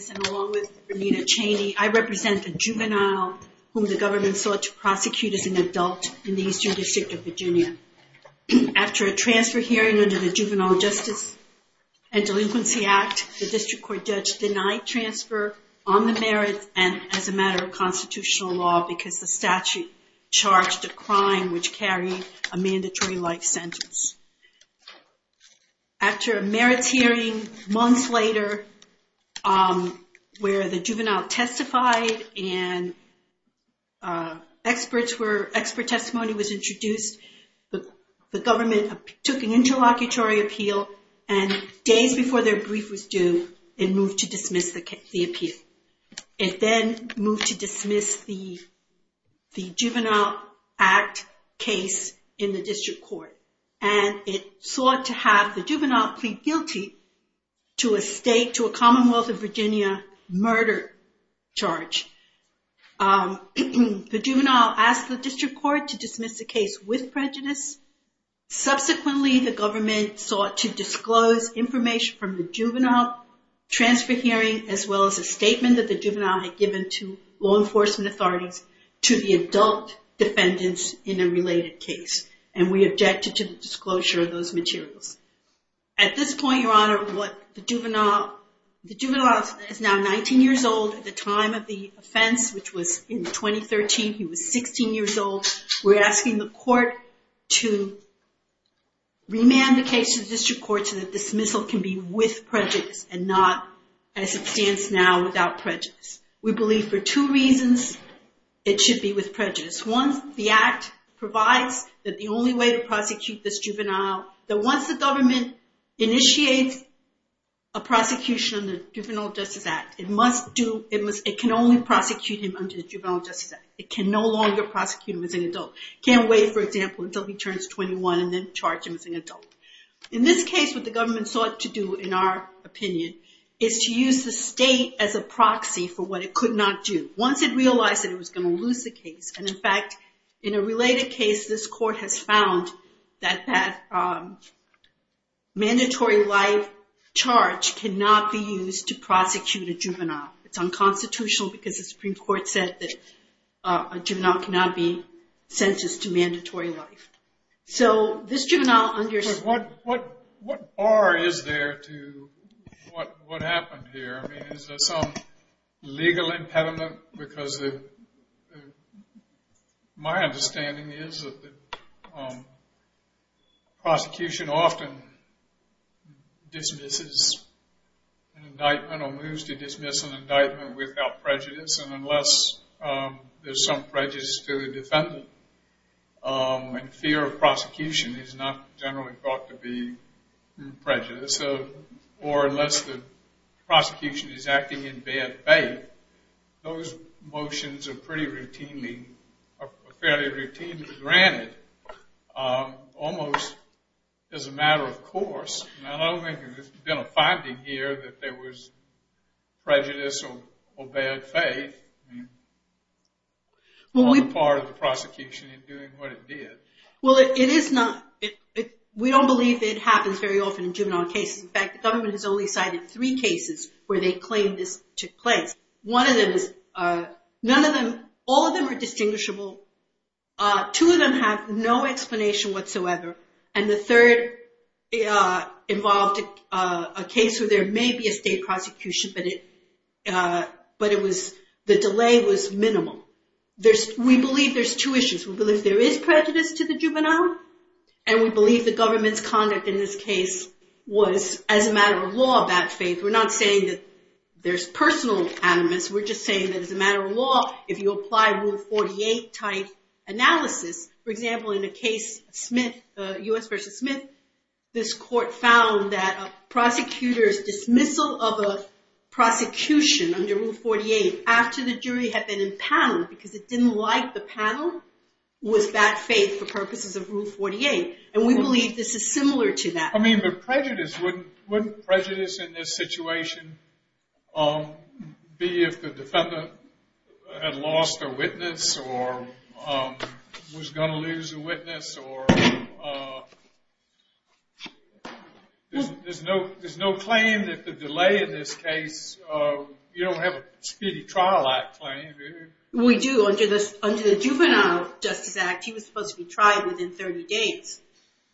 I represent a juvenile whom the government sought to prosecute as an adult in the Eastern District of Virginia. After a transfer hearing under the Juvenile Justice and Delinquency Act, the District Court judge denied transfer on the merits and as a matter of constitutional law because the statute charged a crime which carried a mandatory life sentence. After a merits hearing months later where the juvenile testified and expert testimony was introduced, the government took an interlocutory appeal and days before their brief was due it moved to dismiss the appeal. It then moved to dismiss the Juvenile Act case in the District Court and it sought to have the juvenile plead guilty to a Commonwealth of Virginia murder charge. The juvenile asked the District Court to dismiss the case with prejudice. Subsequently the government sought to disclose information from the juvenile transfer hearing as well as a statement that the juvenile had given to law enforcement authorities to the adult defendants in a related case. And we objected to the disclosure of those materials. At this point, Your Honor, the juvenile is now 19 years old. At the time of the offense, which was in 2013, he was 16 years old. We're asking the court to remand the case to the District Court so that dismissal can be with prejudice and not, as it stands now, without prejudice. We believe for two reasons it should be with prejudice. One, the Act provides that the only way to prosecute this juvenile, that once the government initiates a prosecution under the Juvenile Justice Act, it can only prosecute him under the Juvenile Justice Act. It can no longer prosecute him as an adult. It can't wait, for example, until he turns 21 and then charge him as an adult. In this case, what the government sought to do, in our opinion, is to use the state as a proxy for what it could not do. Once it realized that it was going to lose the case, and in fact, in a related case, this court has found that that mandatory life charge cannot be used to prosecute a juvenile. It's unconstitutional because the Supreme Court said that a juvenile cannot be sentenced to mandatory life. So this juvenile under- What bar is there to what happened here? I mean, is there some legal impediment? Because my understanding is that prosecution often dismisses an indictment or moves to dismiss an indictment without prejudice, and unless there's some prejudice to the defendant, and fear of prosecution is not generally thought to be prejudice, or unless the prosecution is acting in bad faith, those motions are pretty routinely, are fairly routinely granted, almost as a matter of course. I don't think there's been a finding here that there was prejudice or bad faith on the part of the prosecution in doing what it did. Well, it is not- We don't believe it happens very often in juvenile cases. In fact, the government has only cited three cases where they claim this took place. One of them is- None of them- All of them are distinguishable. Two of them have no explanation whatsoever. And the third involved a case where there may be a state prosecution, but the delay was minimal. We believe there's two issues. We believe there is prejudice to the juvenile, and we believe the government's conduct in this case was as a matter of law, bad faith. We're not saying that there's personal animus. We're just saying that as a matter of law, if you apply Rule 48-type analysis, for example, in a case, Smith, U.S. v. Smith, this court found that a prosecutor's dismissal of a prosecution under Rule 48 after the jury had been impounded because it didn't like the panel was bad faith for purposes of Rule 48. And we believe this is similar to that. I mean, the prejudice- wouldn't prejudice in this situation be if the defendant had lost a witness or was going to lose a witness or- There's no claim that the delay in this case- You don't have a speedy trial act claim. We do. Under the Juvenile Justice Act, he was supposed to be tried within 30 days.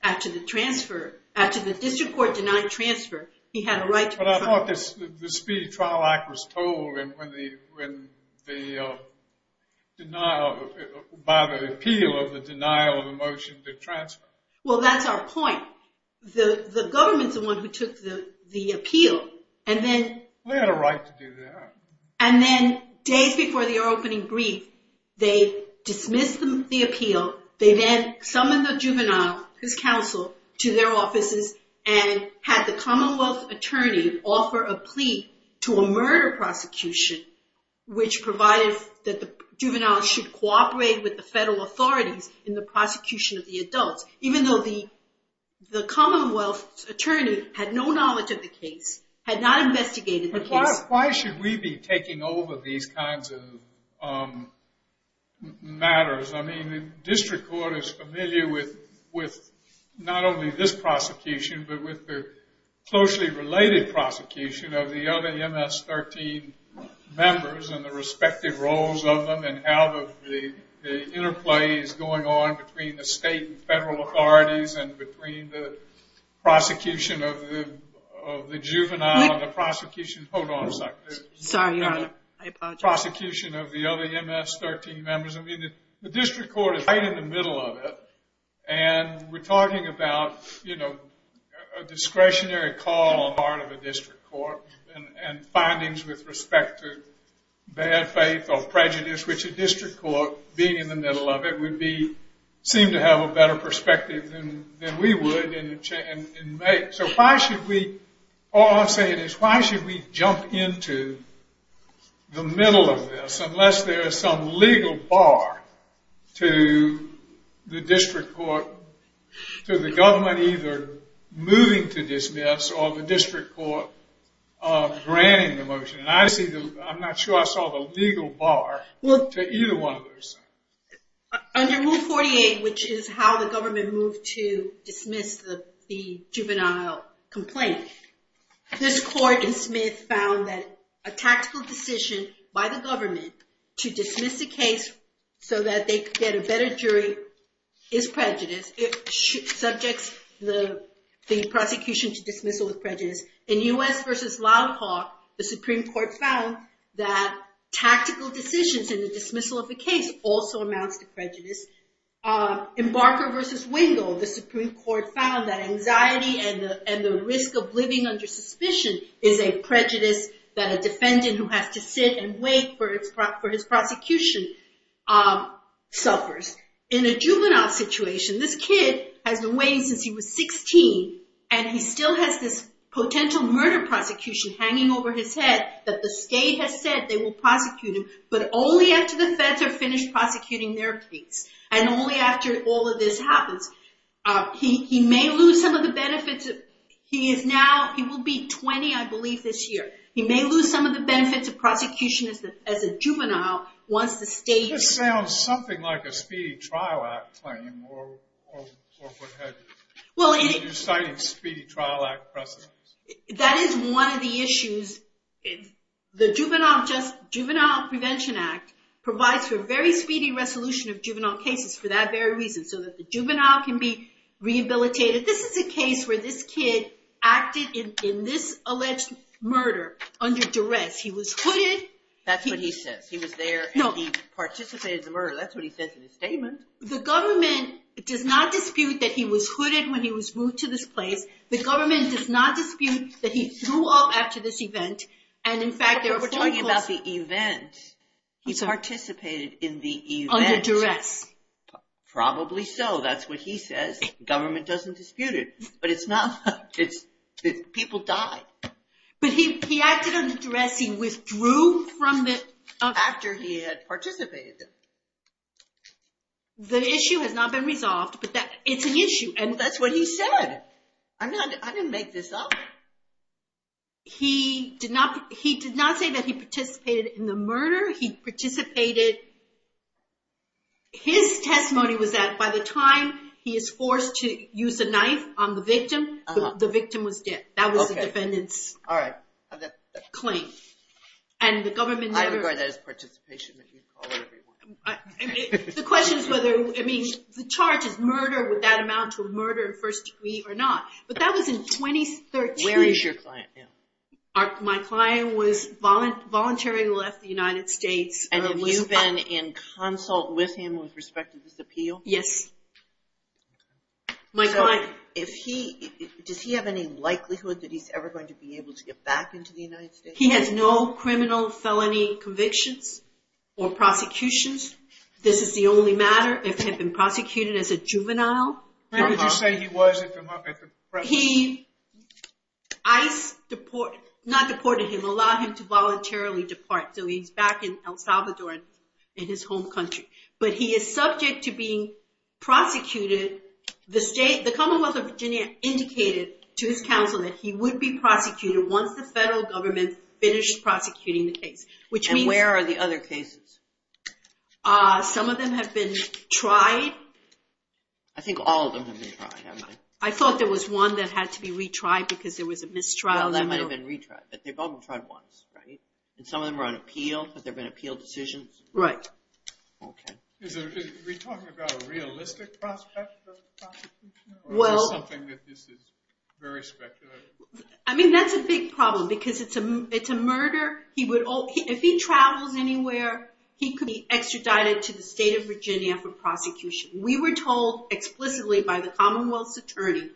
After the transfer- After the district court denied transfer, he had a right to- But I thought the speedy trial act was told by the appeal of the denial of the motion to transfer. Well, that's our point. The government's the one who took the appeal, and then- They had a right to do that. And then days before the opening brief, they dismissed the appeal. They then summoned the juvenile, his counsel, to their offices and had the commonwealth attorney offer a plea to a murder prosecution, which provided that the juvenile should cooperate with the federal authorities in the prosecution of the adults, even though the commonwealth attorney had no knowledge of the case, had not investigated the case. But why should we be taking over these kinds of matters? I mean, the district court is familiar with not only this prosecution, but with the closely related prosecution of the other MS-13 members and the respective roles of them and how the interplay is going on between the state and federal authorities and between the prosecution of the juvenile and the prosecution- Hold on a second. Sorry, Your Honor. I apologize. The prosecution of the other MS-13 members. I mean, the district court is right in the middle of it, and we're talking about a discretionary call on the part of a district court and findings with respect to bad faith or prejudice, which a district court, being in the middle of it, would seem to have a better perspective than we would. So why should we... All I'm saying is why should we jump into the middle of this unless there is some legal bar to the district court, to the government either moving to dismiss or the district court granting the motion? I'm not sure I saw the legal bar to either one of those things. Under Rule 48, which is how the government moved to dismiss the juvenile complaint, this court in Smith found that a tactical decision by the government to dismiss the case so that they could get a better jury is prejudice. It subjects the prosecution to dismissal with prejudice. In U.S. v. Loud Hawk, the Supreme Court found that Embarker v. Wingle, the Supreme Court found that anxiety and the risk of living under suspicion is a prejudice that a defendant who has to sit and wait for his prosecution suffers. In a juvenile situation, this kid has been waiting since he was 16 and he still has this potential murder prosecution hanging over his head that the state has said they will prosecute him, but only after the feds are finished prosecuting their case and only after all of this happens. He may lose some of the benefits. He will be 20, I believe, this year. He may lose some of the benefits of prosecution as a juvenile once the state... That sounds something like a Speedy Trial Act claim or what have you. You're citing Speedy Trial Act precedents. That is one of the issues. The Juvenile Prevention Act provides for very speedy resolution of juvenile cases for that very reason, so that the juvenile can be rehabilitated. This is a case where this kid acted in this alleged murder under duress. He was hooded. That's what he says. He was there and he participated in the murder. That's what he says in his statement. The government does not dispute that he was hooded when he was moved to this place. The government does not dispute that he threw up after this event. We're talking about the event. He participated in the event. Under duress. Probably so. That's what he says. The government doesn't dispute it. People died. He acted under duress. He withdrew after he had participated. The issue has not been resolved, but it's an issue. That's what he said. I didn't make this up. He did not say that he participated in the murder. He participated. His testimony was that by the time he is forced to use a knife on the victim, the victim was dead. That was the defendant's claim. I regard that as participation, but you can call it whatever you want. The question is whether the charge is murder, would that amount to a murder in first degree or not. But that was in 2013. Where is your client now? My client voluntarily left the United States. Have you been in consult with him with respect to this appeal? Yes. Does he have any likelihood that he's ever going to be able to get back into the United States? He has no criminal felony convictions or prosecutions. This is the only matter if he had been prosecuted as a juvenile. How would you say he was? ICE deported him, not deported him, allowed him to voluntarily depart. So he's back in El Salvador in his home country. But he is subject to being prosecuted. The Commonwealth of Virginia indicated to his counsel that he would be finished prosecuting the case. And where are the other cases? Some of them have been tried. I think all of them have been tried, haven't they? I thought there was one that had to be retried because there was a mistrial. Well, that might have been retried, but they've all been tried once, right? And some of them were on appeal, have there been appeal decisions? Right. Are we talking about a realistic prospect of prosecution? Or is this something that is very speculative? I mean, that's a big problem because it's a murder. If he travels anywhere, he could be extradited to the state of Virginia for prosecution. We were told explicitly by the Commonwealth's attorney,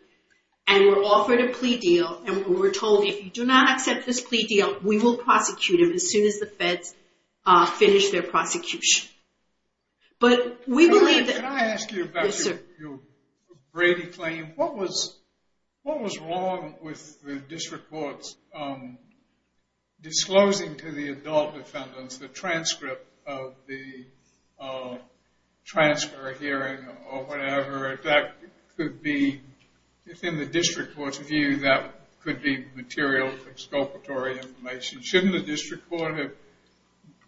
and we're offered a plea deal. And we were told, if you do not accept this plea deal, we will prosecute him as soon as the feds finish their prosecution. But we believe that- Can I ask you about your Brady claim? What was wrong with the district courts disclosing to the adult defendants the transcript of the transfer hearing or whatever? That could be, within the district court's view, that could be material exculpatory information. Shouldn't the district court have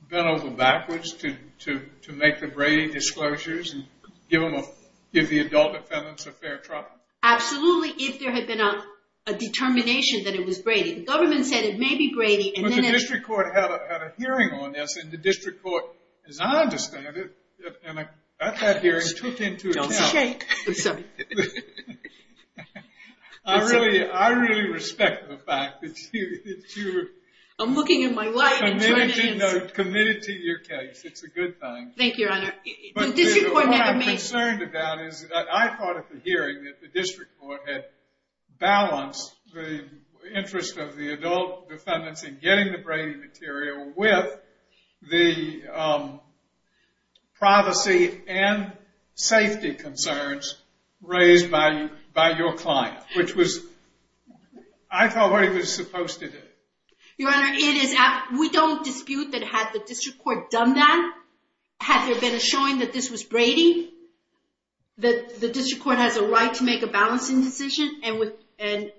bent over backwards to make the Brady disclosures and give the adult defendants a fair trial? Absolutely, if there had been a determination that it was Brady. The government said it may be Brady, and then- But the district court had a hearing on this, and the district court, as I understand it, at that hearing took into account- Don't shake. I really respect the fact that you- I'm looking at my wife and trying to- Committed to your case. It's a good thing. Thank you, Your Honor. The district court never made- But what I'm concerned about is that I thought at the hearing that the district court had balanced the interest of the adult defendants in getting the Brady material with the privacy and safety concerns raised by your client, which was- I thought what he was supposed to do. Your Honor, we don't dispute that had the district court done that, had there been a showing that this was Brady, that the district court has a right to make a balancing decision and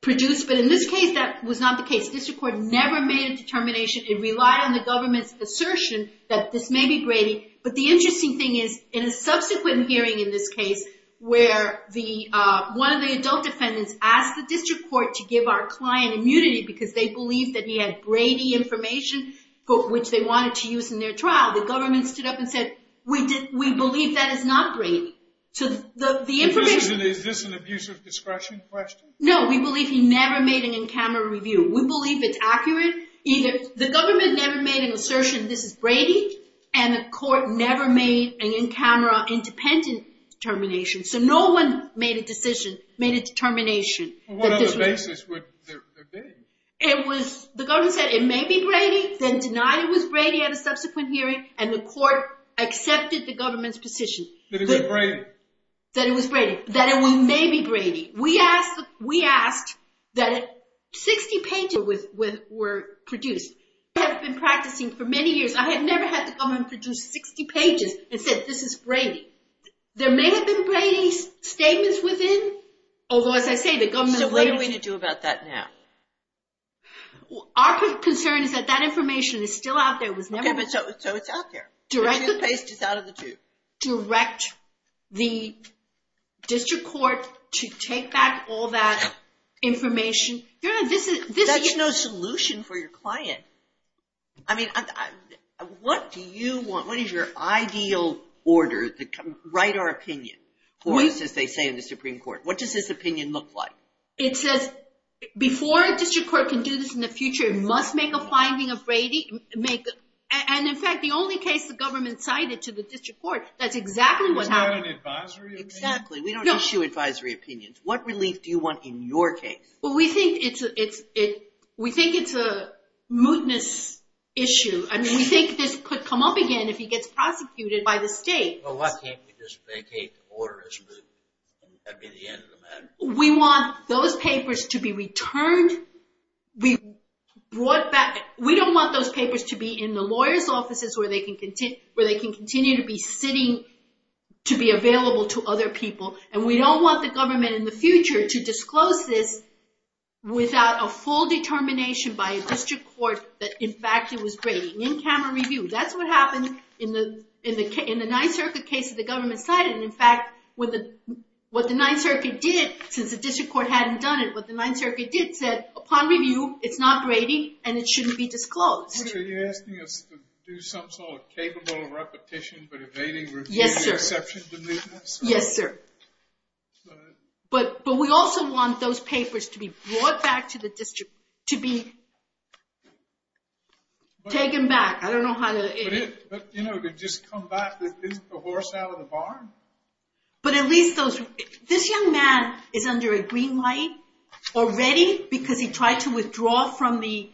produce- But in this case, that was not the case. The district court never made a determination. It relied on the government's assertion that this may be Brady. But the interesting thing is in a subsequent hearing in this case where one of the adult defendants asked the district court to give our client immunity because they believed that he had Brady information, which they wanted to use in their trial, the government stood up and said, we believe that is not Brady. So the information- Is this an abusive discretion question? No, we believe he never made an in-camera review. We believe it's accurate. The government never made an assertion this is Brady, and the court never made an in-camera independent determination. So no one made a decision, made a determination- What other basis would there be? The government said it may be Brady, then denied it was Brady at a subsequent hearing, and the court accepted the government's position. That it was Brady. That it was Brady. That it may be Brady. We asked that 60 pages were produced. I have been practicing for many years. I have never had the government produce 60 pages and said this is Brady. There may have been Brady statements within, although as I say the government- So what are we going to do about that now? Our concern is that that information is still out there, it was never- So it's out there. Direct the- The toothpaste is out of the tube. Direct the district court to take back all that information. That's no solution for your client. I mean, what do you want? What is your ideal order? Write our opinion for us, as they say in the Supreme Court. What does this opinion look like? It says before a district court can do this in the future, it must make a finding of Brady. And, in fact, the only case the government cited to the district court, that's exactly what happened. Is that an advisory opinion? Exactly. We don't issue advisory opinions. What relief do you want in your case? Well, we think it's a mootness issue. I mean, we think this could come up again if he gets prosecuted by the state. Well, why can't we just vacate the order as mootness? We want those papers to be returned. We don't want those papers to be in the lawyer's offices where they can continue to be sitting to be available to other people. And we don't want the government in the future to disclose this without a full determination by a district court that, in fact, it was Brady. In camera review, that's what happened in the Ninth Circuit case that the government cited. And, in fact, what the Ninth Circuit did, since the district court hadn't done it, what the Ninth Circuit did said, upon review, it's not Brady, and it shouldn't be disclosed. Are you asking us to do some sort of capable repetition, but evading review, exception to mootness? Yes, sir. But we also want those papers to be brought back to the district, to be taken back. I don't know how to... But, you know, to just come back, isn't a horse out of the barn? But at least those... This young man is under a green light already because he tried to withdraw from the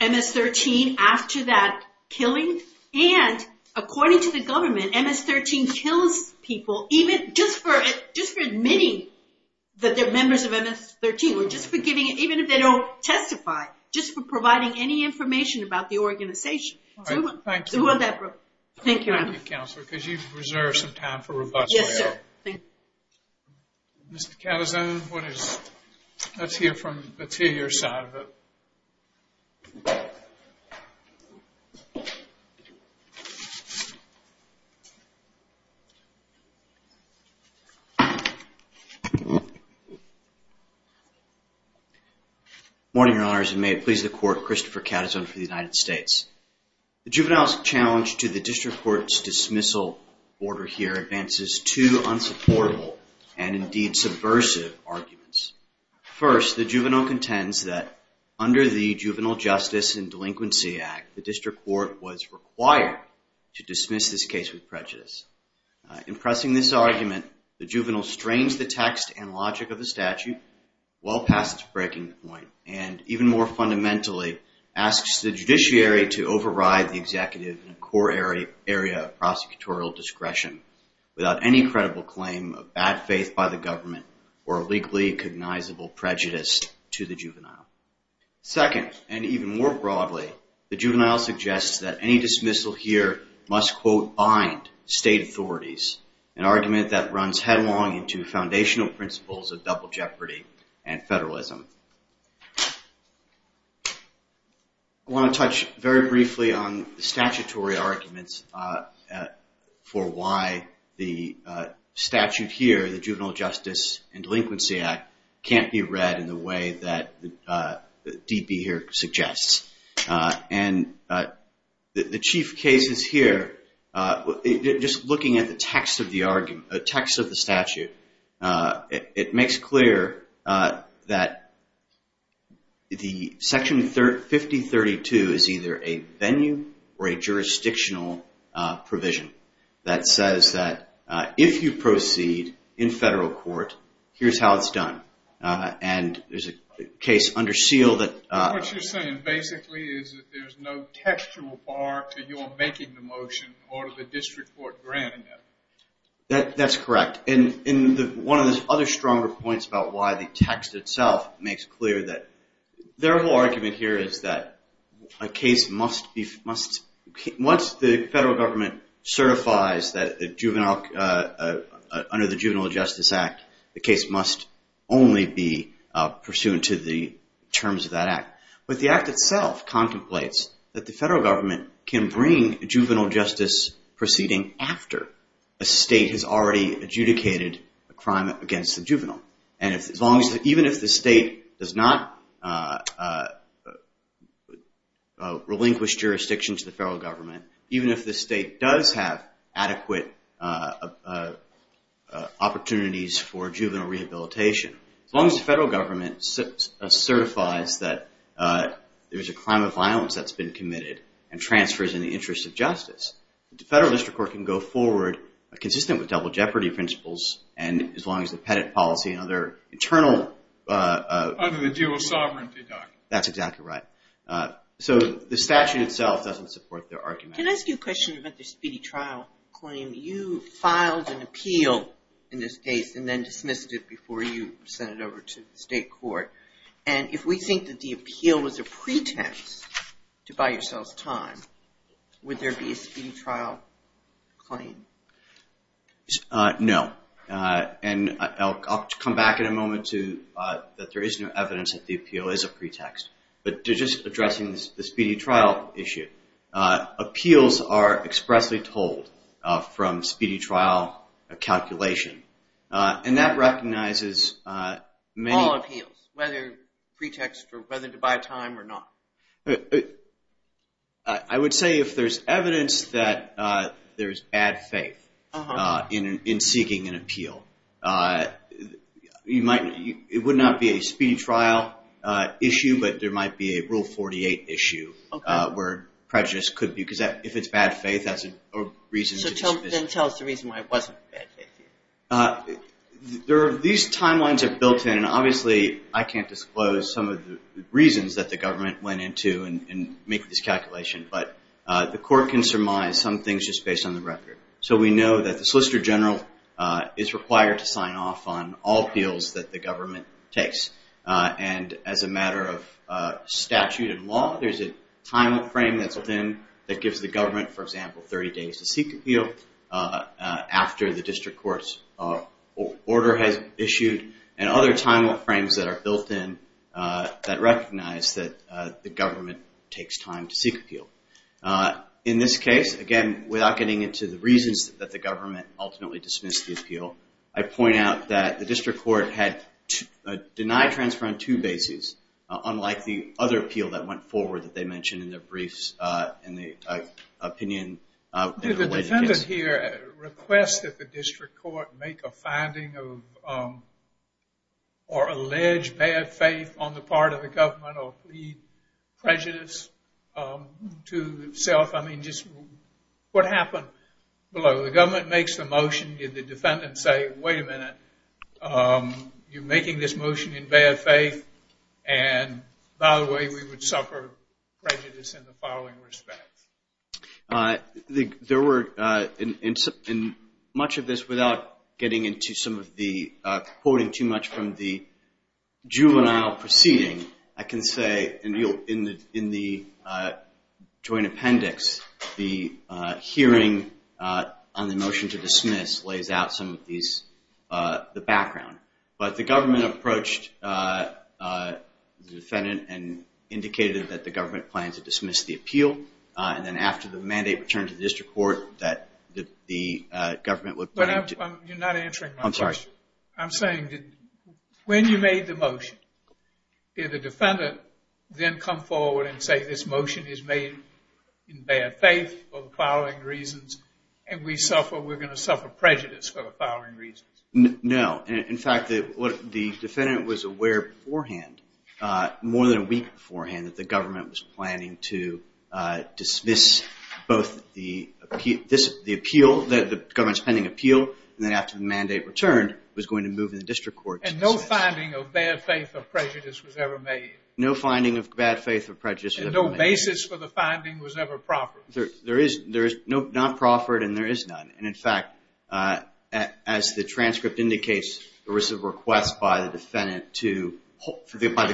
MS-13 after that killing. And, according to the government, MS-13 kills people even just for admitting that they're members of MS-13, or just for giving it, even if they don't testify, just for providing any information about the organization. All right, thank you. Thank you, Your Honor. Thank you, Counselor, because you've reserved some time for robust trial. Yes, sir. Thank you. Mr. Cavazone, let's hear your side of it. Good morning, Your Honors, and may it please the Court, Christopher Cavazone for the United States. The juvenile's challenge to the district court's dismissal order here advances two unsupportable and, indeed, subversive arguments. First, the juvenile contends that under the Juvenile Justice and Delinquency Act, the district court was required to dismiss this case with prejudice. In pressing this argument, the juvenile strains the text and logic of the statute well past breaking the point and, even more fundamentally, asks the judiciary to override the executive in a core area of prosecutorial discretion without any credible claim of bad faith by the government or a legally cognizable prejudice to the juvenile. Second, and even more broadly, the juvenile suggests that any dismissal here must, quote, bind state authorities, an argument that runs headlong into foundational principles of double jeopardy and federalism. I want to touch very briefly on the statutory arguments for why the statute here, the Juvenile Justice and Delinquency Act, can't be read in the way that the DB here suggests. And the chief cases here, just looking at the text of the argument, the text of the statute, it makes clear that the Section 5032 is either a venue or a jurisdictional provision that says that if you proceed in federal court, here's how it's done. And there's a case under seal that... What you're saying basically is that there's no textual bar to your making the motion or to the district court granting it. That's correct. And one of the other stronger points about why the text itself makes clear that their whole argument here is that a case must be... Once the federal government certifies that under the Juvenile Justice Act, the case must only be pursuant to the terms of that act. But the act itself contemplates that the federal government can bring juvenile justice proceeding after a state has already adjudicated a crime against the juvenile. And even if the state does not relinquish jurisdiction to the federal government, even if the state does have adequate opportunities for juvenile rehabilitation, as long as the federal government certifies that there's a crime of violence that's been committed and transfers in the interest of justice, the federal district court can go forward consistent with double jeopardy principles and as long as the Pettit policy and other internal... Other than the dual sovereignty document. That's exactly right. So the statute itself doesn't support their argument. Can I ask you a question about the speedy trial claim? You filed an appeal in this case and then dismissed it before you sent it over to the state court. And if we think that the appeal was a pretext to buy yourselves time, would there be a speedy trial claim? No. And I'll come back in a moment to that there is no evidence that the appeal is a pretext. But just addressing the speedy trial issue, appeals are expressly told from speedy trial calculation. And that recognizes many... All appeals, whether pretext or whether to buy time or not. I would say if there's evidence that there's bad faith in seeking an appeal. It would not be a speedy trial issue, but there might be a Rule 48 issue where prejudice could be... If it's bad faith, that's a reason to dismiss it. So then tell us the reason why it wasn't bad faith. These timelines are built in and obviously I can't disclose some of the reasons that the government went into and made this calculation. But the court can surmise some things just based on the record. So we know that the Solicitor General is required to sign off on all appeals that the government takes. And as a matter of statute and law, there's a time frame that's built in that gives the government, for example, 30 days to seek appeal after the district court's order has issued and other time frames that are built in that recognize that the government takes time to seek appeal. In this case, again, without getting into the reasons that the government ultimately dismissed the appeal, I point out that the district court had denied transfer on two bases unlike the other appeal that went forward that they mentioned in their briefs and the opinion... Did the defendant here request that the district court make a finding or allege bad faith on the part of the government or plead prejudice to itself? I mean, just what happened below? The government makes the motion. Did the defendant say, wait a minute, you're making this motion in bad faith and by the way, we would suffer prejudice in the following respects? There were, in much of this, without getting into some of the... Now proceeding, I can say, in the joint appendix, the hearing on the motion to dismiss lays out some of the background. But the government approached the defendant and indicated that the government planned to dismiss the appeal and then after the mandate returned to the district court that the government would... You're not answering my question. When you made the motion, did the defendant then come forward and say this motion is made in bad faith for the following reasons and we're going to suffer prejudice for the following reasons? No. In fact, the defendant was aware beforehand more than a week beforehand that the government was planning to dismiss both the appeal and then after the mandate returned was going to move in the district court. And no finding of bad faith or prejudice was ever made? No finding of bad faith or prejudice was ever made. And no basis for the finding was ever proffered? There is not proffered and there is none. And in fact, as the transcript indicates, there was a request by the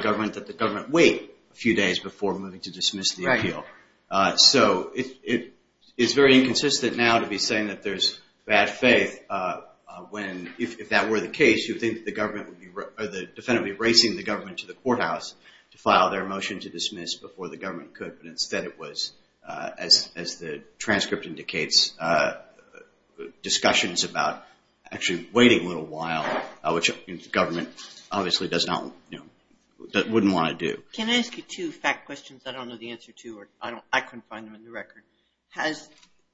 government that the government wait a few days before moving to dismiss the appeal. So it is very inconsistent now to be saying that there's bad faith when if that were the case, you think the defendant would be racing the government to the courthouse to file their motion to dismiss before the government could but instead it was, as the transcript indicates, discussions about actually waiting a little while, which the government obviously wouldn't want to do. Can I ask you two fact questions? I couldn't find them in the record. Has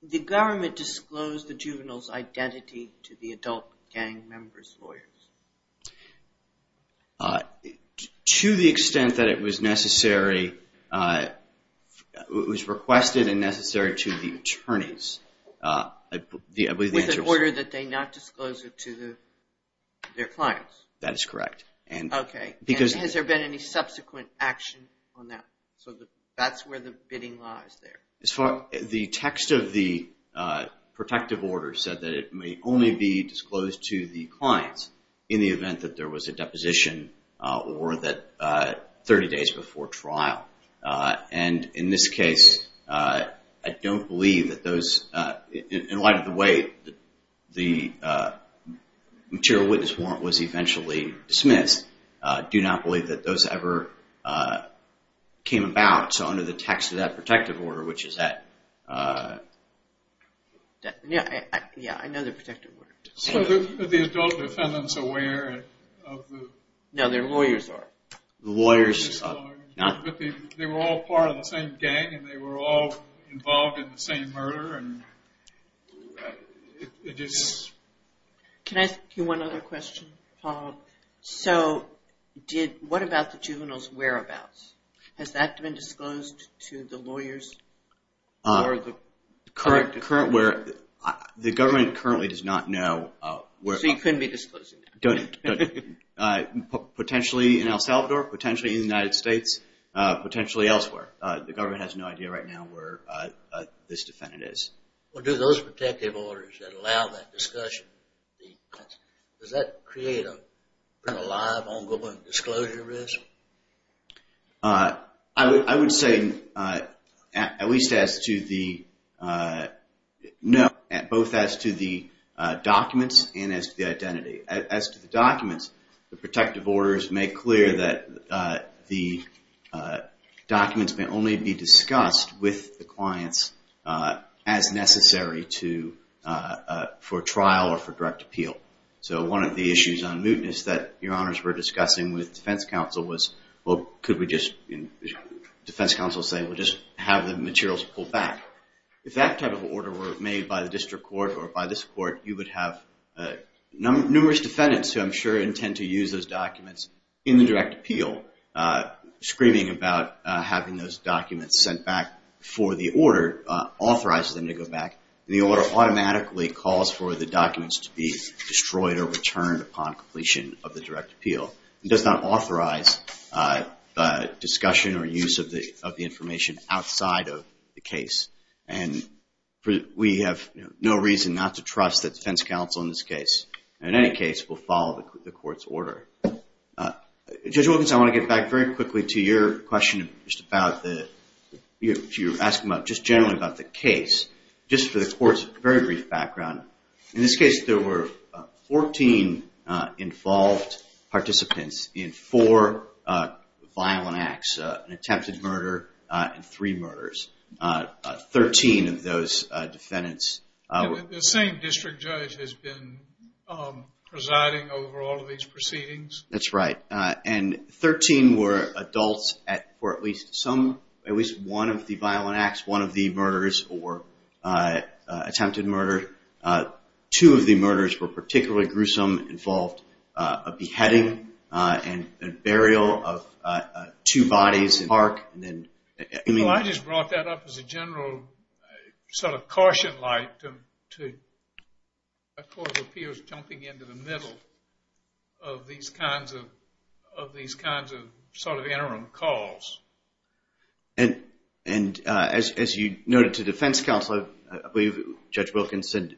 the government disclosed the juvenile's identity to the adult gang members' lawyers? To the extent that it was necessary, it was requested and necessary to the attorneys. With an order that they not disclose it to their clients? That is correct. And has there been any subsequent action on that? So that's where the bidding law is there. The text of the protective order said that it may only be disclosed to the clients in the event that there was a deposition or that 30 days before trial. And in this case, I don't believe that those, in light of the way that the material witness warrant was eventually dismissed, do not believe that those ever came about. So under the text of that protective order, which is that... Yeah, I know the protective order. So are the adult defendants aware of the... No, their lawyers are. But they were all part of the same gang and they were all involved in the same murder and it is... Can I ask you one other question, Paul? So what about the juvenile's whereabouts? Has that been disclosed to the lawyers or the current... The government currently does not know... So you couldn't be disclosing that. Potentially in El Salvador, potentially in the United States, potentially elsewhere. The government has no idea right now where this defendant is. Well, do those protective orders that allow that discussion, does that create a live, ongoing disclosure risk? I would say at least as to the... No, both as to the documents and as to the identity. As to the documents, the protective orders make clear that the documents may only be discussed with the clients as necessary for trial or for direct appeal. So one of the issues on mootness that your honors were discussing with defense counsel was could we just... defense counsel saying we'll just have the materials pulled back. If that type of order were made by the district court or by this court, you would have numerous defendants who I'm sure intend to use those documents in the direct appeal. Screaming about having those documents sent back for the order authorizes them to go back. The order automatically calls for the documents to be destroyed or returned upon completion of the direct appeal. It does not authorize discussion or use of the information outside of the case. And we have no reason not to trust the defense counsel in this case. In any case, we'll follow the court's order. Judge Wilkins, I want to get back very quickly to your question just about the... just generally about the case. Just for the court's very brief background. In this case, there were 14 involved participants in 4 violent acts. An attempted murder and 3 murders. 13 of those defendants... The same district judge has been presiding over all of these proceedings. That's right. And 13 were adults for at least one of the violent acts. One of the murders or attempted murder. Two of the murders were particularly gruesome. Involved a beheading and burial of two bodies in the park. I just brought that up as a general sort of caution light to a court of appeals jumping into the middle of these kinds of sort of interim calls. And as you noted to defense counsel, I believe Judge Wilkins said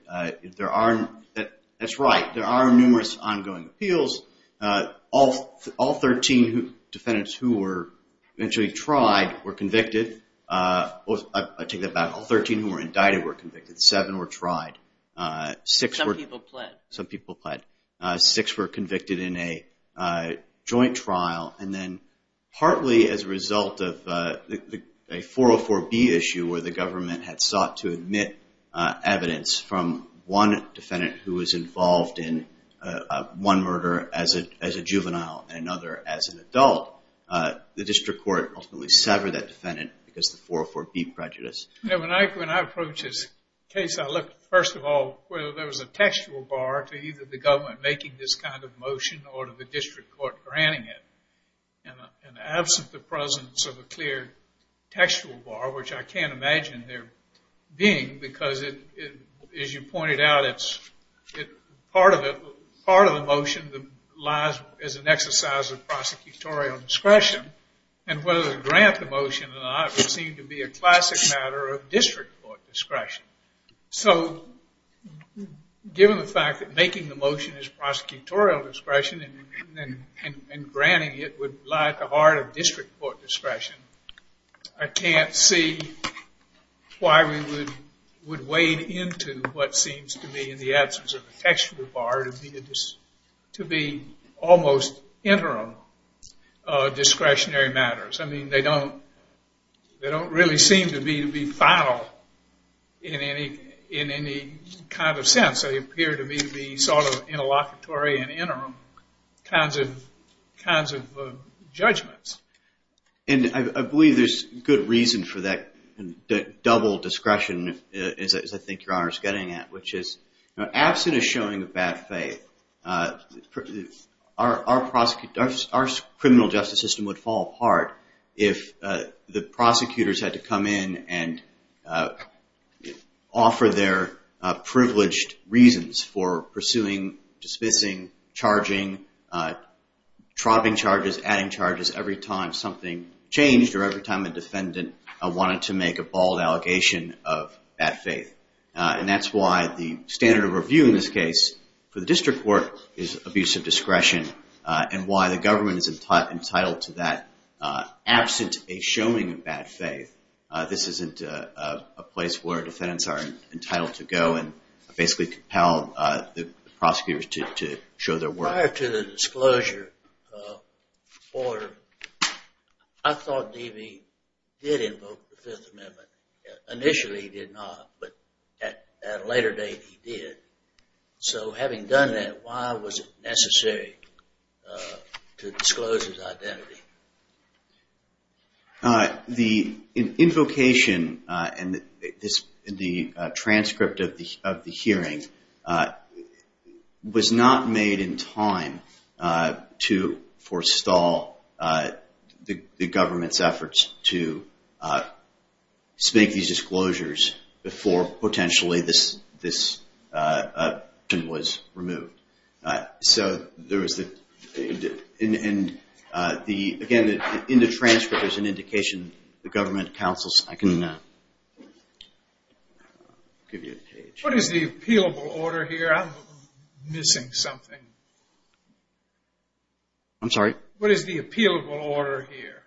that's right, there are numerous ongoing appeals. All 13 defendants who were eventually tried were convicted. I take that back. All 13 who were indicted were convicted. Seven were tried. Some people pled. Six were convicted in a joint trial. And then partly as a result of a 404B issue where the government had sought to admit evidence from one defendant who was involved in one murder as a juvenile and another as an adult, the district court ultimately severed that defendant because the 404B prejudice. When I approach this case, I look first of all whether there was a textual bar to either the government making this kind of motion or to the district court granting it. And absent the presence of a clear textual bar, which I can't imagine there being because as you pointed out part of the motion lies as an exercise of prosecutorial discretion and whether to grant the motion or not would seem to be a classic matter of district court discretion. So given the fact that making the motion is prosecutorial discretion and granting it would lie at the heart of district court discretion, I can't see why we would wade into what seems to be in the absence of a textual bar to be almost interim discretionary matters. I mean, they don't really seem to be final in any kind of sense. They appear to be sort of interlocutory and interim kinds of judgments. And I believe there's good reason for that double discretion as I think Your Honor is getting at, which is absent a showing of bad faith our criminal justice system would fall apart if the prosecutors had to come in and offer their privileged reasons for pursuing, dismissing, charging, dropping charges, adding charges every time something changed or every time a defendant wanted to make a bald allegation of bad faith. And that's why the standard of review in this case for the district court is abusive discretion and why the government is entitled to that absent a showing of bad faith. This isn't a place where defendants are entitled to go and basically compel the prosecutors to show their worth. Prior to the disclosure order, I thought D.B. did invoke the Fifth Amendment. Initially he did not, but at a later date he did. So having done that, why was it necessary to disclose his identity? The invocation and the transcript of the hearing was not made in time to forestall the government's efforts to make these disclosures before potentially this was removed. So there was the again, in the transcript there's an indication the government counsels, I can give you a page. What is the appealable order here? I'm missing something. I'm sorry? What is the appealable order here?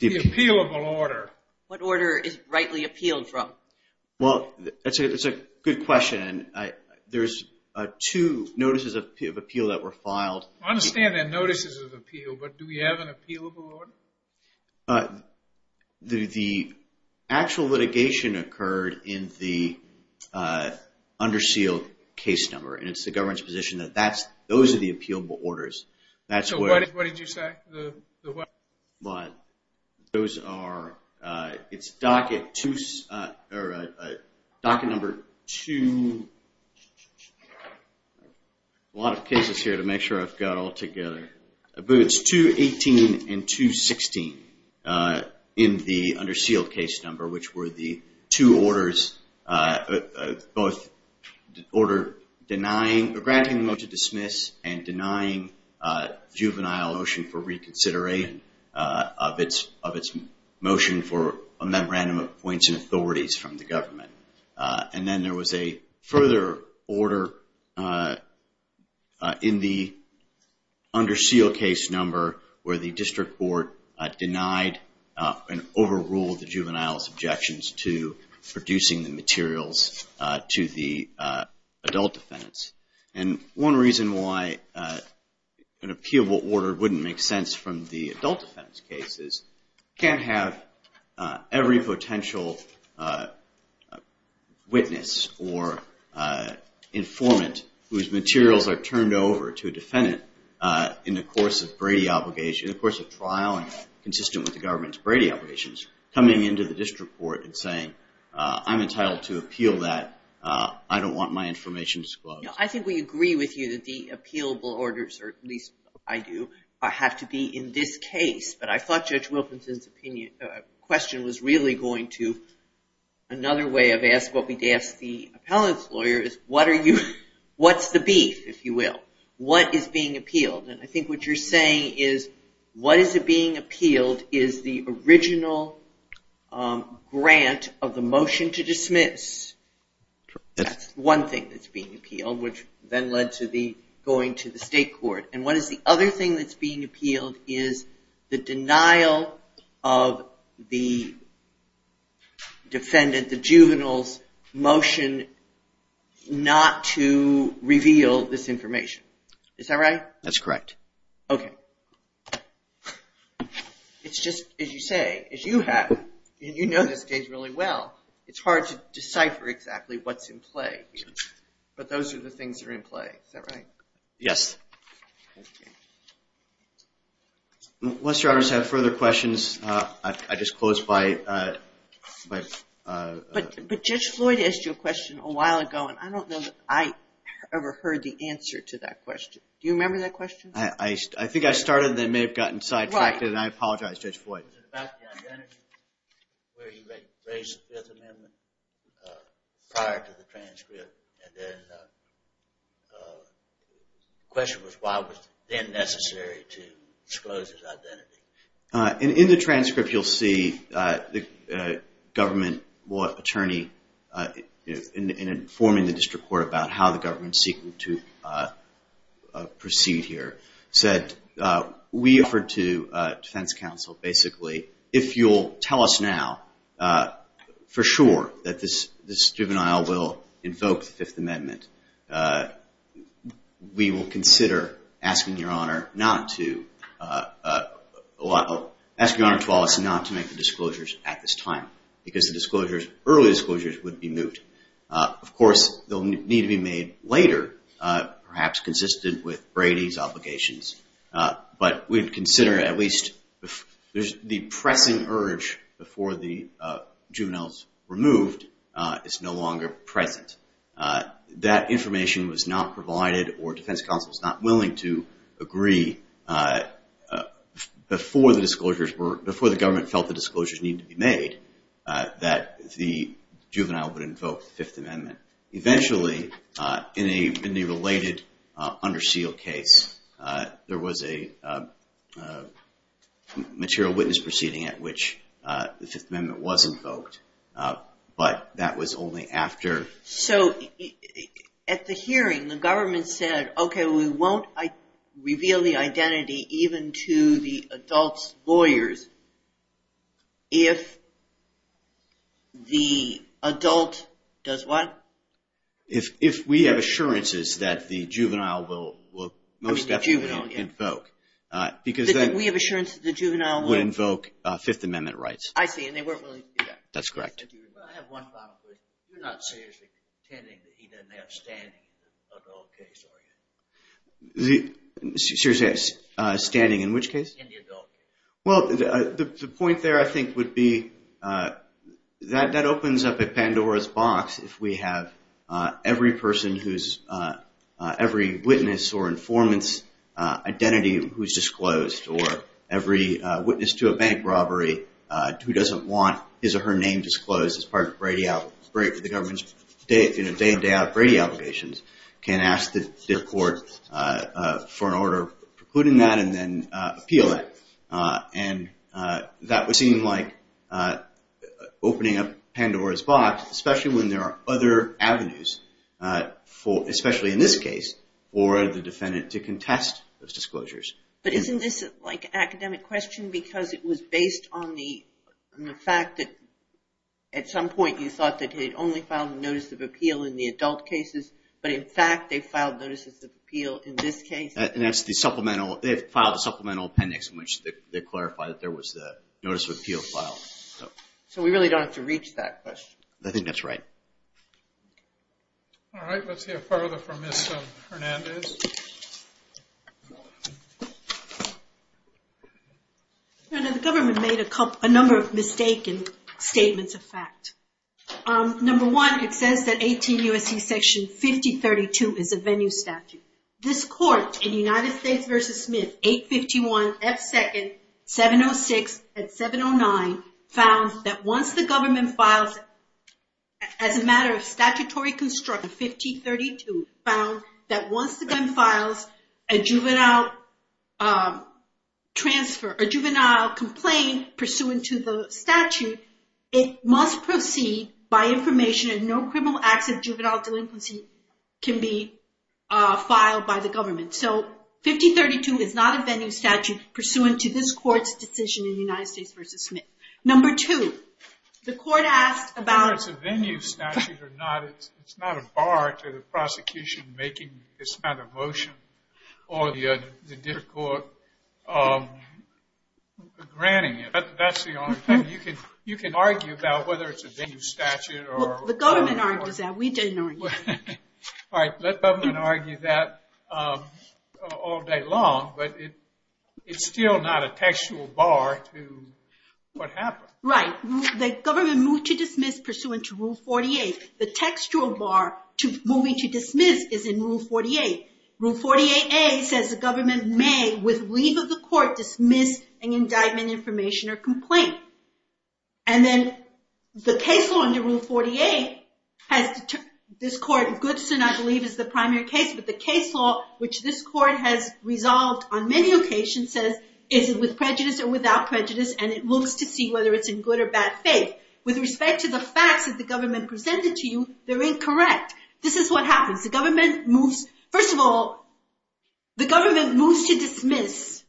The appealable order. What order is rightly appealed from? Well, that's a good question. There's two notices of appeal that were filed. I understand there are notices of appeal, but do we have an appealable order? The actual litigation occurred in the undersealed case number, and it's the government's position that those are the appealable orders. So what did you say? Those are, it's docket number two a lot of cases here to make sure I've got it all together. But it's 218 and 216 in the undersealed case number which were the two orders both order denying granting the motion to dismiss and denying juvenile motion for reconsideration of its motion for appointing authorities from the government. And then there was a further order in the undersealed case number where the district court denied and overruled the juvenile's objections to producing the materials to the adult defendants. And one reason why an appealable order wouldn't make sense from the adult defendants case is you can't have every potential witness or informant whose materials are turned over to a defendant in the course of trial and consistent with the government's Brady obligations coming into the district court and saying I'm entitled to appeal that I don't want my information disclosed. I think we agree with you that the appealable orders, or at least I do, have to be in this case. But I thought Judge Wilkinson's question was really going to another way of asking what we'd ask the appellant's lawyer is what's the beef if you will? What is being appealed? And I think what you're saying is what is being appealed is the original grant of the motion to dismiss. That's one thing that's being appealed which then led to going to the state court. And what is the other thing that's being appealed is the denial of the defendant, the juvenile's motion not to reveal this information. Is that right? That's correct. Okay. It's just as you say, as you have, and you know this case really well, it's hard to decipher exactly what's in play. But those are the things that are in play. Is that right? Yes. Okay. Unless your honors have further questions, I just close by... But Judge Floyd asked you a question a while ago and I don't know that I ever heard the answer to that question. Do you remember that question? I think I started and then may have gotten sidetracked and I apologize, Judge Floyd. Was it about the identity where you raised the Fifth Amendment prior to the transcript and then the question was why was it then necessary to disclose his identity? In the transcript you'll see the government attorney informing the district court about how the government is seeking to proceed here said we offered to defense counsel basically if you'll tell us now for sure that this juvenile will invoke the Fifth Amendment. We will consider asking your honor to allow us not to make the disclosures at this time because the early disclosures would be moot. Of course, they'll need to be made later, perhaps consistent with Brady's obligations. But we'd consider at least the pressing urge before the juveniles removed is no longer present. That information was not provided or defense counsel is not willing to agree before the government felt the disclosures need to be made that the juvenile would invoke the Fifth Amendment. Eventually, in a related under seal case, there was a material witness proceeding at which the Fifth Amendment was invoked. But that was only after... At the hearing, the government said we won't reveal the identity even to the adult's lawyers if the adult does what? If we have assurances that the juvenile will most definitely invoke. We have assurances that the juvenile will invoke Fifth Amendment rights. I have one final question. You're not seriously contending that he didn't have standing in the adult case, are you? Standing in which case? The point there, I think, would be that opens up a Pandora's box if we have every witness or informant's identity who is disclosed or every witness to a bank robbery who doesn't want his or her name disclosed as part of the government's day-in-day-out Brady allegations can ask the court for an order precluding that and then appeal it. That would seem like opening up Pandora's box especially when there are other avenues especially in this case for the defendant to contest those disclosures. But isn't this an academic question because it was based on the fact that at some point you thought that they'd only filed a notice of appeal in the adult cases but in fact they filed notices of appeal in this case? That's the supplemental appendix in which they clarified that there was the notice of appeal filed. So we really don't have to reach that question. I think that's right. Alright, let's hear further from Ms. Hernandez. The government made a number of mistaken statements of fact. Number one, it says that 18 U.S.C. section 5032 is a venue statute. This court in United States v. Smith 851 F. 2nd 706 and 709 found that once the government files as a matter of statutory construction 5032 found that once the gun files a juvenile complaint pursuant to the statute it must proceed by information and no criminal acts of juvenile delinquency can be filed by the government. So 5032 is not a venue statute pursuant to this court's position in United States v. Smith. Number two, the court asked about... It's not a bar to the prosecution making this kind of motion or the court granting it. You can argue about whether it's a venue statute. The government argued that. We didn't argue that. The government argued that all day long but it's still not a textual bar to what happened. The government moved to dismiss pursuant to Rule 48. The textual bar to moving to dismiss is in Rule 48. Rule 48A says the government may with leave of the court dismiss an indictment information or complaint. The case law under Rule 48 this court Goodson I believe is the primary case but the case law which this court has resolved on many occasions says is it with prejudice or without prejudice and it looks to see whether it's in good or bad faith. With respect to the facts that the government presented to you they're incorrect. This is what happens. First of all, the government moves to dismiss.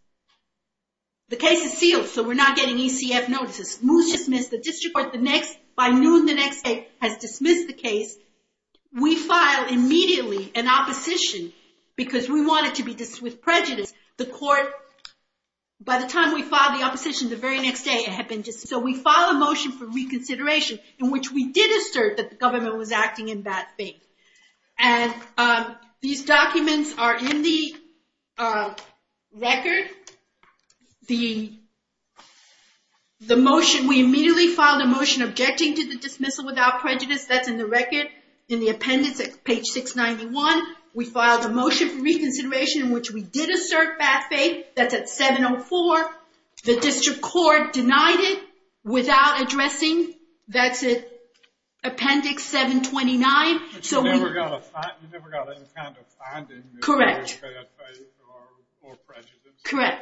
The case is sealed so we're not getting ECF notices. The district court by noon the next day has dismissed the case. We file immediately an opposition because we want it to be dismissed with prejudice. By the time we filed the opposition the very next day it had been dismissed. So we filed a motion for reconsideration in which we did assert that the government was acting in bad faith. These documents are in the record. We immediately filed a motion objecting to the dismissal without prejudice. That's in the record in the appendix at page 691. We filed a motion for reconsideration in which we did assert bad faith. That's at 704. The district court denied it without addressing that's at appendix 729. You never got any kind of finding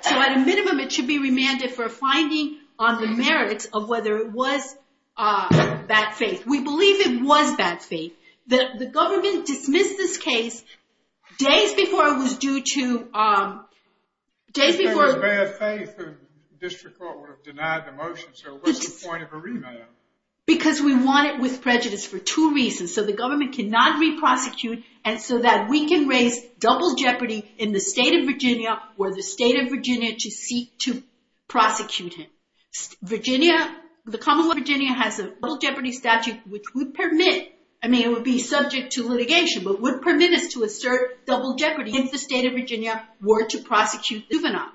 So at a minimum it should be remanded for a finding on the merits of whether it was bad faith. We believe it was bad faith. The government dismissed this case days before it was due to days before... Because we want it with prejudice for two reasons. So the government cannot re-prosecute and so that we can raise double jeopardy in the state of Virginia for the state of Virginia to seek to prosecute him. Virginia, the Commonwealth of Virginia has a double jeopardy statute which would permit I mean it would be subject to litigation but would permit us to assert double jeopardy if the state of Virginia were to prosecute the juvenile.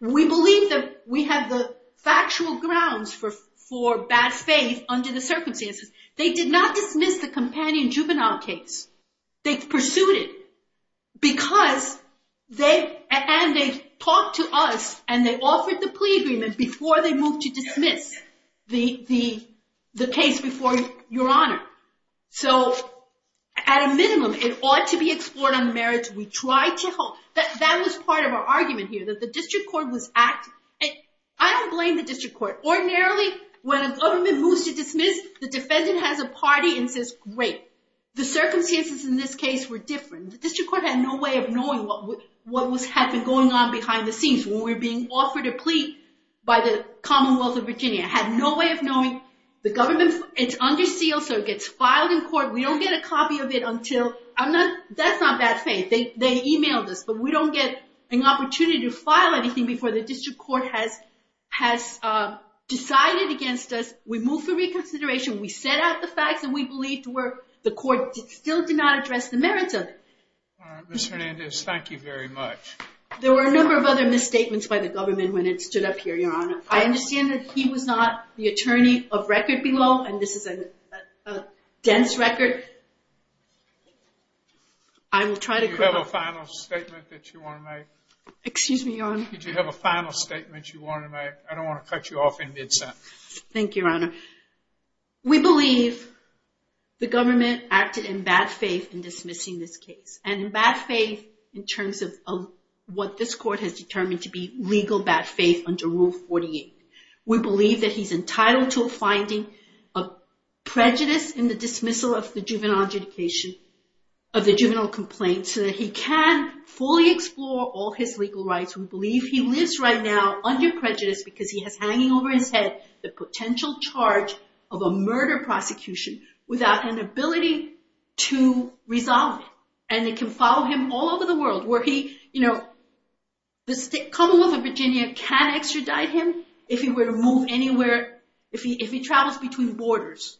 We believe that we have the factual grounds for bad faith under the circumstances. They did not dismiss the companion juvenile case. They pursued it because and they talked to us and they offered the plea agreement before they moved to dismiss the case before your honor. So at a minimum it ought to be explored on the merits. That was part of our argument here that the district court was I don't blame the district court. Ordinarily when a government moves to dismiss the defendant the defendant has a party and says great. The circumstances in this case were different. The district court had no way of knowing what was going on behind the scenes when we were being offered a plea by the Commonwealth of Virginia. Had no way of knowing. The government, it's under seal so it gets filed in court. We don't get a copy of it until, that's not bad faith. They emailed us but we don't get an opportunity to file anything before the district court has decided against us. We move for reconsideration. We set out the facts and we believe the court still did not address the merits of it. Ms. Hernandez, thank you very much. There were a number of other misstatements by the government when it stood up here your honor. I understand that he was not the attorney of record below and this is a dense record. I will try to Do you have a final statement that you want to make? Excuse me your honor. I don't want to cut you off in mid sentence. Thank you your honor. We believe the government acted in bad faith in dismissing this case. And in bad faith in terms of what this court has determined to be legal bad faith under rule 48. We believe that he's entitled to a finding of prejudice in the dismissal of the juvenile adjudication of the juvenile complaint so that he can fully explore all his legal rights. We believe he lives right now under prejudice because he has hanging over his head the potential charge of a murder prosecution without an ability to resolve it. And it can follow him all over the world where he the Commonwealth of Virginia can extradite him if he were to move anywhere, if he travels between borders.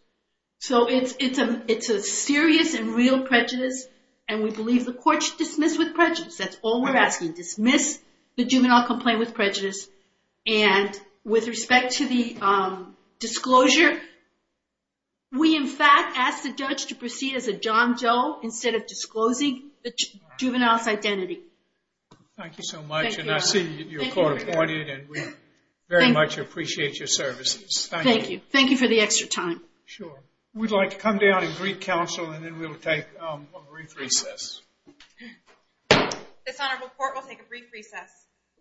So it's a serious and real prejudice and we believe the court should dismiss with prejudice. That's all we're asking. Dismiss the juvenile complaint with prejudice and with respect to the disclosure we in fact ask the judge to proceed as a John Doe instead of disclosing the juvenile's identity. Thank you so much and I see you're court appointed and we very much appreciate your services. Thank you. Thank you for the extra time. Sure. We'd like to come down and greet counsel and then we'll take a brief recess. This honorable court will take a brief recess.